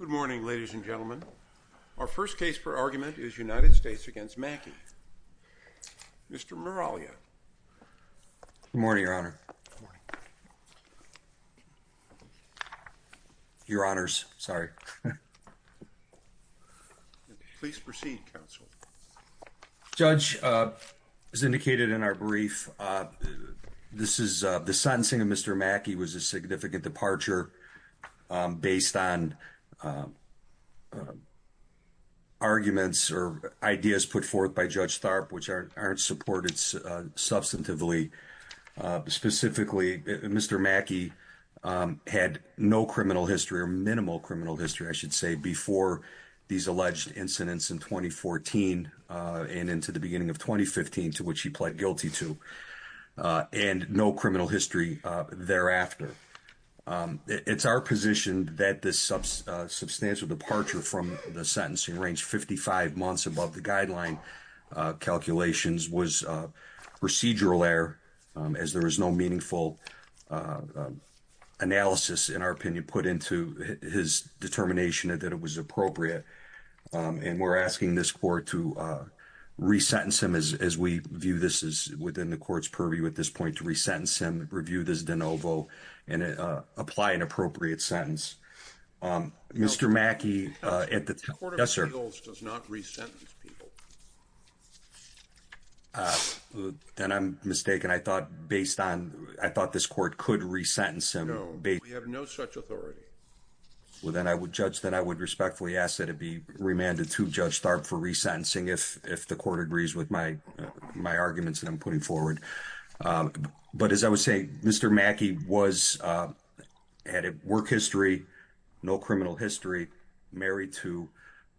Good morning, ladies and gentlemen. Our first case for argument is United States v. Mackey. Mr. Miraglia. Good morning, Your Honor. Your Honors, sorry. Please proceed, counsel. Judge, as indicated in our brief, the sentencing of Mr. Mackey was a significant departure based on arguments or ideas put forth by Judge Tharp, which aren't supported substantively. Specifically, Mr. Mackey had no criminal history or minimal criminal history, I should say, before these alleged incidents in 2014 and into the beginning of 2015, to which he pled guilty to, and no criminal history thereafter. It's our position that this substantial departure from the sentencing range 55 months above the guideline calculations was procedural error, as there is no meaningful analysis, in our opinion, put into his determination that it was appropriate. And we're asking this court to re-sentence him, as we view this as within the court's purview at this point, to re-sentence him, review this de novo, and apply an appropriate sentence. Mr. Mackey, at the time... The Court of Appeals does not re-sentence people. Then I'm mistaken. I thought this court could re-sentence him. No, we have no such authority. Well, then, Judge, then I would respectfully ask that it be remanded to Judge Tharp for re-sentencing if the court agrees with my arguments that I'm putting forward. But as I was saying, Mr. Mackey had a work history, no criminal history, married to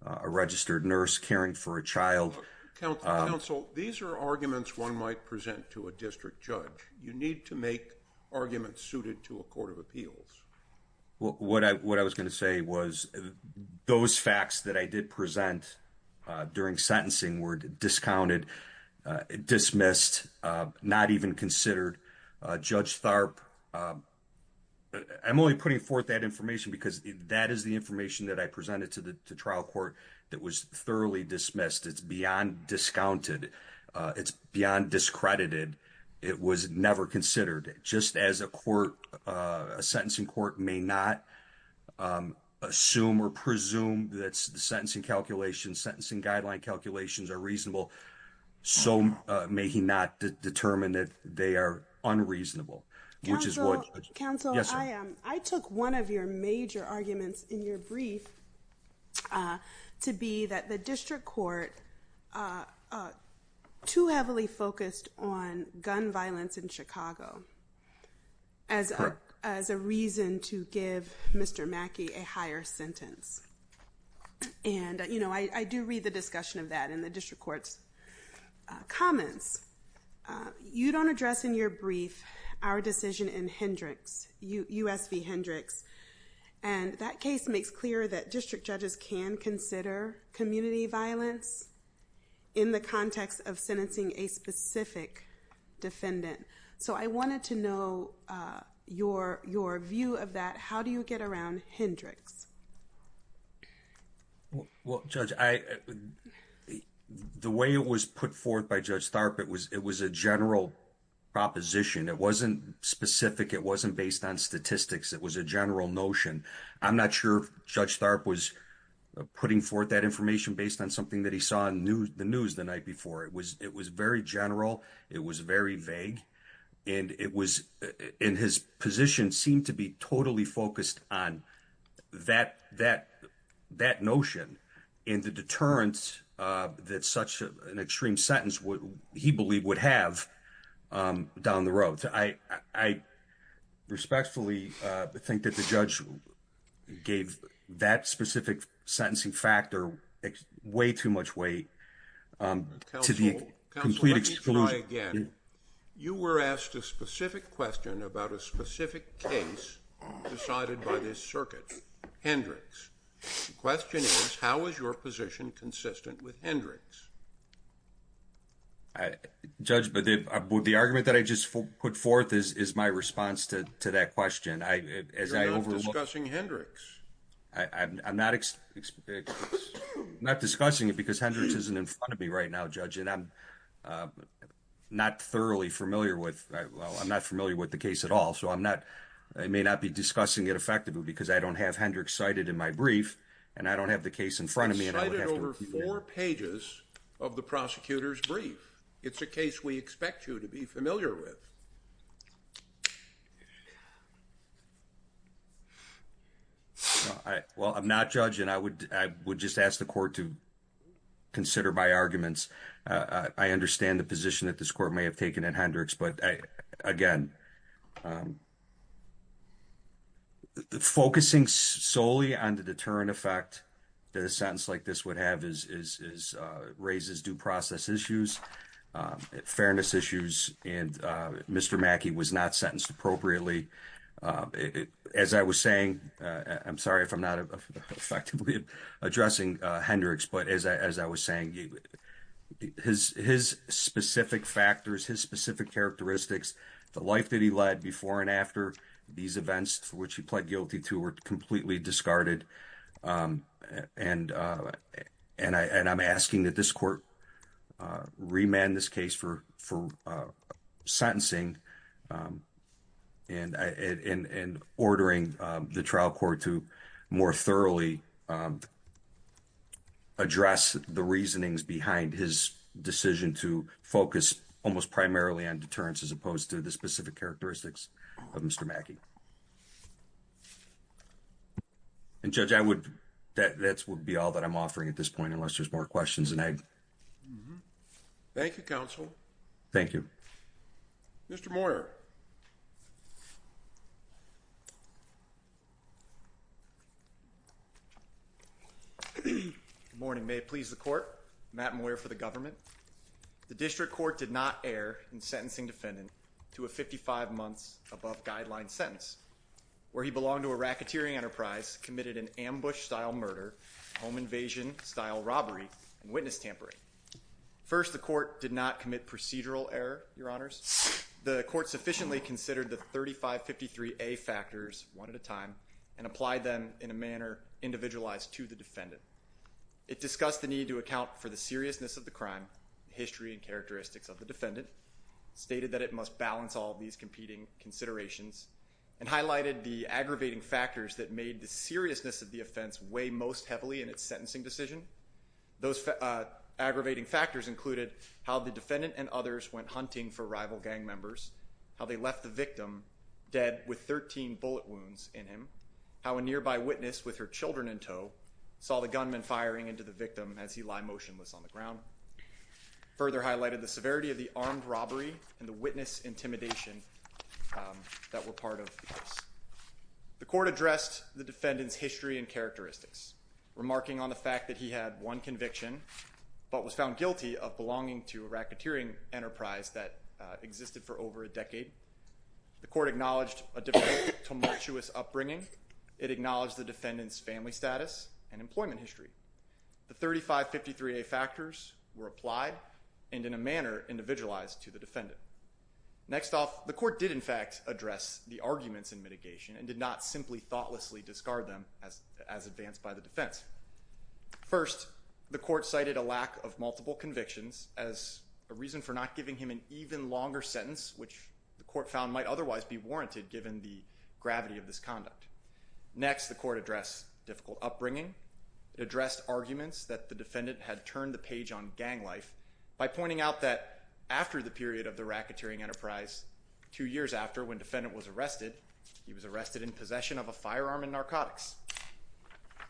a registered nurse, caring for a child... Counsel, these are arguments one might present to a district judge. You need to make arguments to a court of appeals. What I was going to say was those facts that I did present during sentencing were discounted, dismissed, not even considered. Judge Tharp... I'm only putting forth that information because that is the information that I presented to the trial court that was thoroughly dismissed. It's beyond discounted. It's beyond discredited. It was never considered. Just as a court, a sentencing court may not assume or presume that sentencing calculations, sentencing guideline calculations are reasonable, so may he not determine that they are unreasonable, which is what... Counsel, I took one of your major arguments in your brief to be that the district court are too heavily focused on gun violence in Chicago as a reason to give Mr. Mackey a higher sentence. And I do read the discussion of that in the district court's comments. You don't address in your brief our decision in Hendricks, U.S. v. Hendricks, and that case makes clear that district judges can consider community violence in the context of sentencing a specific defendant. So I wanted to know your view of that. How do you get around Hendricks? Well, Judge, the way it was put forth by Judge Tharp, it was a general proposition. It wasn't based on statistics. It was a general notion. I'm not sure if Judge Tharp was putting forth that information based on something that he saw in the news the night before. It was very general. It was very vague. And his position seemed to be totally focused on that notion and the deterrence that such an extreme sentence, he believed, would have down the road. Respectfully, I think that the judge gave that specific sentencing factor way too much weight to the complete exclusion. Counsel, let me try again. You were asked a specific question about a specific case decided by this circuit, Hendricks. The question is, how is your position consistent with Hendricks? Judge, the argument that I just put forth is my response to that question. You're not discussing Hendricks. I'm not discussing it because Hendricks isn't in front of me right now, Judge, and I'm not thoroughly familiar with the case at all. So I may not be discussing it effectively because I don't have Hendricks cited in my brief, and I don't have the case in front of me. You cited over four pages of the prosecutor's brief. It's a case we expect you to be familiar with. Well, I'm not judging. I would just ask the court to consider my arguments. I understand the position that this court may have taken in Hendricks, but again, focusing solely on the deterrent effect that a sentence like this would have raises due process issues, fairness issues, and Mr. Mackey was not sentenced appropriately. As I was saying, I'm sorry if I'm not effectively addressing Hendricks, but as I was saying, his specific factors, his specific characteristics, the life that he led before and after these events for which he pled guilty to were completely discarded, and I'm asking that this court remand this case for sentencing and ordering the trial court to more thoroughly address the reasonings behind his decision to focus almost primarily on deterrence as opposed to the specific characteristics of Mr. Mackey. And Judge, that would be all that I'm offering at this point unless there's more questions. Thank you, counsel. Thank you. Mr. Moyer. Good morning. May it please the court. Matt Moyer for the government. The district court did not err in sentencing defendant to a 55 months above guideline sentence where he belonged to a racketeering enterprise, committed an ambush-style murder, home invasion-style robbery, and witness tampering. First, the court did not commit procedural error, your honors. The court sufficiently considered the 3553A factors one at a time and applied them in a manner individualized to the defendant. It discussed the need to account for the seriousness of the crime, history and characteristics of the defendant, stated that it must balance all these competing considerations, and highlighted the aggravating factors that made the seriousness of the offense weigh most heavily in its sentencing decision. Those aggravating factors included how the defendant and others went hunting for rival gang members, how they left the victim dead with 13 bullet wounds in him, how a nearby witness with her children in tow saw the gunman firing into the victim as he lied motionless on the ground. Further highlighted the severity of the armed robbery and the witness intimidation that were part of the case. The court addressed the defendant's history and characteristics, remarking on the fact that he had one conviction but was found guilty of belonging to a racketeering enterprise that existed for over a decade. The court acknowledged a difficult, tumultuous upbringing. It acknowledged the defendant's family status and employment history. The 3553A factors were applied and in a manner individualized to the defendant. Next off, the court did in fact address the arguments in mitigation and did not simply thoughtlessly discard them as advanced by the defense. First, the court cited a lack of multiple convictions as a reason for not giving him an even longer sentence, which the court found might otherwise be warranted given the gravity of this conduct. Next, the court addressed difficult upbringing. It addressed arguments that the defendant had turned the page on gang life by pointing out that after the period of the racketeering enterprise, two years after when was arrested, he was arrested in possession of a firearm and narcotics.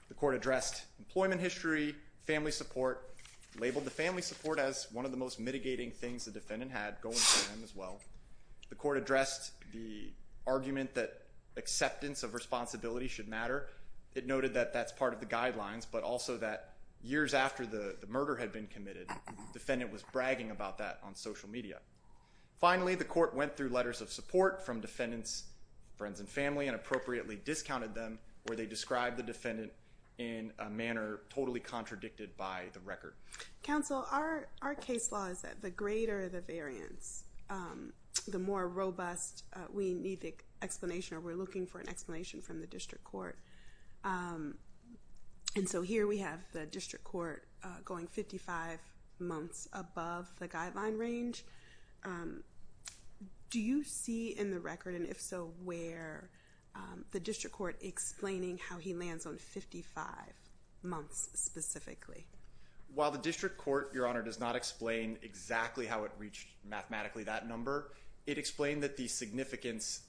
The court addressed employment history, family support, labeled the family support as one of the most mitigating things the defendant had going for him as well. The court addressed the argument that acceptance of responsibility should matter. It noted that that's part of the guidelines, but also that years after the murder had been committed, the defendant was bragging about that on social media. Finally, the court went through letters of support from defendants, friends, and family and appropriately discounted them where they described the defendant in a manner totally contradicted by the record. Counsel, our case law is that the greater the variance, the more robust we need the explanation or we're looking for an explanation from the district court. And so here we have the district court going 55 months above the guideline range. Do you see in the record, and if so, where the district court explaining how he lands on 55 months specifically? While the district court, Your Honor, does not explain exactly how it reached mathematically that number, it explained that the significance,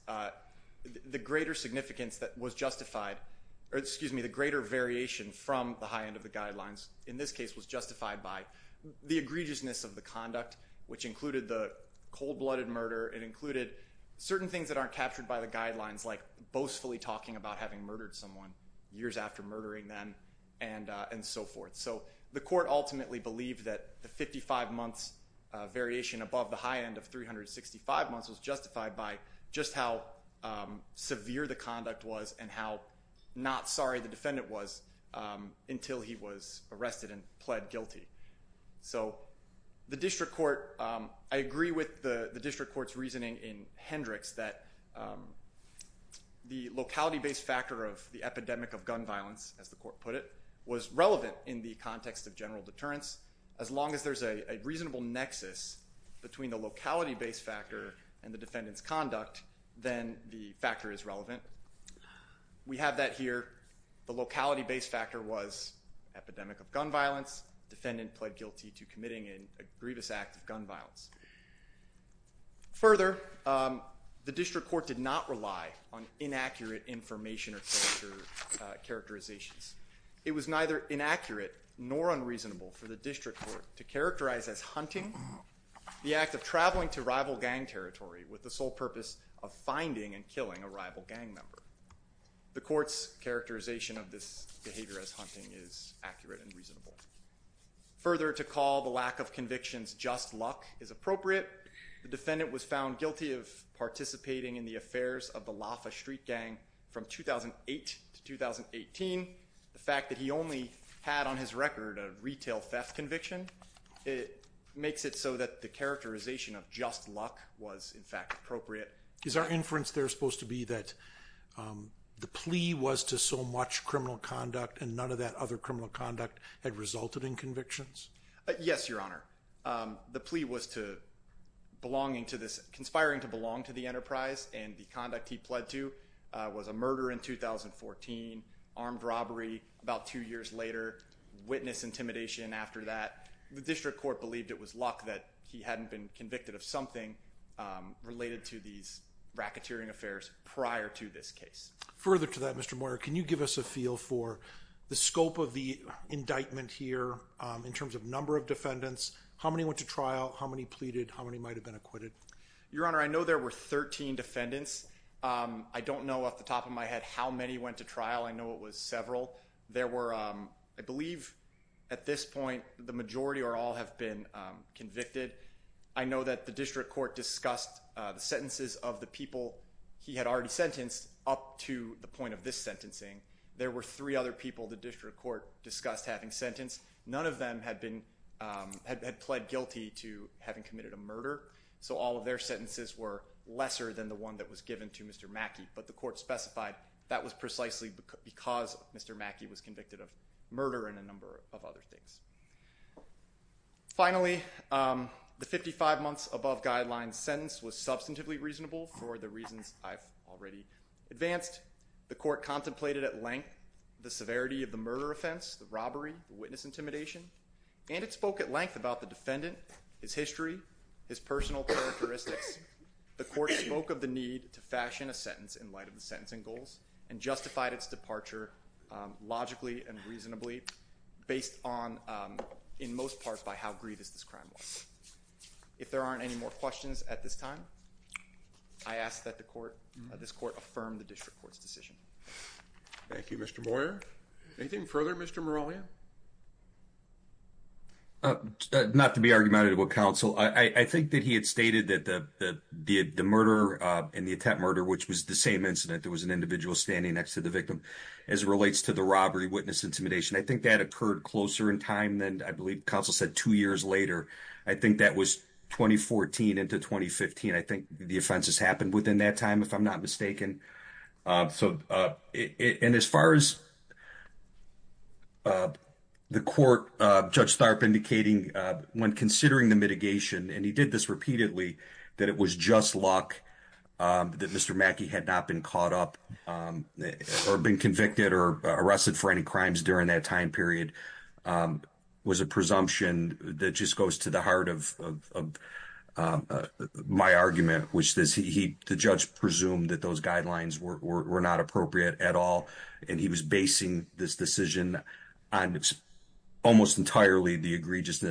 the greater significance that was justified, or excuse me, the greater variation from the high end of the guidelines in this case was justified by the egregiousness of the conduct, which included the cold-blooded murder. It included certain things that aren't captured by the guidelines, like boastfully talking about having murdered someone years after murdering them and so forth. So the court ultimately believed that the 55 months variation above the high end of 365 months was justified by just how severe the conduct was and how not sorry the defendant was until he was arrested and pled guilty. So the district court, I agree with the district court's reasoning in Hendricks that the locality based factor of the epidemic of gun violence, as the court put it, was relevant in the context of general deterrence. As long as there's a reasonable nexus between the locality based factor and the defendant's conduct, then the factor is relevant. We have that here. The locality based factor was epidemic of gun violence. Defendant pled guilty to committing an egregious act of gun violence. Further, the district court did not rely on inaccurate information or culture characterizations. It was neither inaccurate nor unreasonable for the district court to characterize as hunting the act of traveling to rival gang territory with the sole purpose of finding and killing a rival gang member. The court's characterization of this behavior as hunting is accurate and reasonable. Further, to call the lack of convictions just luck is appropriate. The defendant was found guilty of participating in the affairs of the Loffa Street Gang from 2008 to 2018. The fact that he only had on his record a retail theft conviction, it makes it so that the characterization of just luck was, in fact, appropriate. Is our inference there supposed to be that the plea was to so much criminal conduct and none of that other criminal conduct had resulted in convictions? Yes, Your Honor. The plea was to conspiring to belong to the enterprise and the conduct he pled to was a murder in 2014, armed robbery about two years later, witness intimidation after that. The district court believed it was luck that he hadn't been convicted of something related to these racketeering affairs prior to this case. Further to that, Mr. Moyer, can you give us a feel for the scope of the indictment here in terms of number of defendants? How many went to trial? How many pleaded? How many might have been acquitted? Your Honor, I know there were 13 defendants. I don't know off the top of my head how many went to trial. I know it was several. There were, I believe at this point, the majority or all have been convicted. I know that the district court discussed the sentences of the people he had already sentenced up to the point of this sentencing. There were three other people the district court discussed having sentenced. None of them had pled guilty to having committed a murder. So all of their sentences were lesser than the one that was given to Mr. Mackey. But the court specified that was precisely because Mr. Mackey was convicted of murder and a number of other things. Finally, the 55 months above guideline sentence was substantively reasonable for the reasons I've already advanced. The court contemplated at length the severity of the murder offense, the robbery, the witness intimidation. And it spoke at length about the defendant, his history, his personal characteristics. The court spoke of the need to fashion a sentence in light of the sentencing goals and justified its departure logically and reasonably based on, in most parts, by how grievous this crime was. If there aren't any more questions at this time, I ask that this court affirm the district court's decision. Thank you, Mr. Moyer. Anything further, Mr. Moralia? Not to be argumentative of counsel, I think that he had stated that the murder and the attempt murder, which was the same incident, there was an individual standing next to the victim. As it relates to the robbery, witness intimidation, I think that occurred closer in time than I believe counsel said two years later. I think that was 2014 into 2015. I think the offenses happened within that time, if I'm not mistaken. And as far as the court, Judge Tharp indicating when considering the mitigation, and he did this repeatedly, that it was just luck that Mr. Mackey had not been caught up or been convicted or arrested for any crimes during that time period, was a presumption that just to the heart of my argument, which is the judge presumed that those guidelines were not appropriate at all. And he was basing this decision on almost entirely the egregious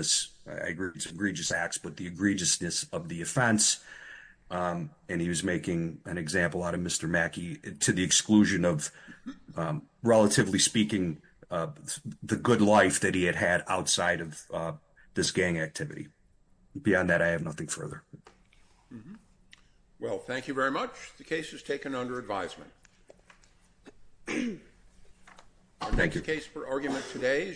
acts, but the egregiousness of the offense. And he was making an example out of Mr. Mackey to the exclusion of, relatively speaking, the good life that he had had outside of this gang activity. Beyond that, I have nothing further. Well, thank you very much. The case is taken under advisement. Thank you for argument today.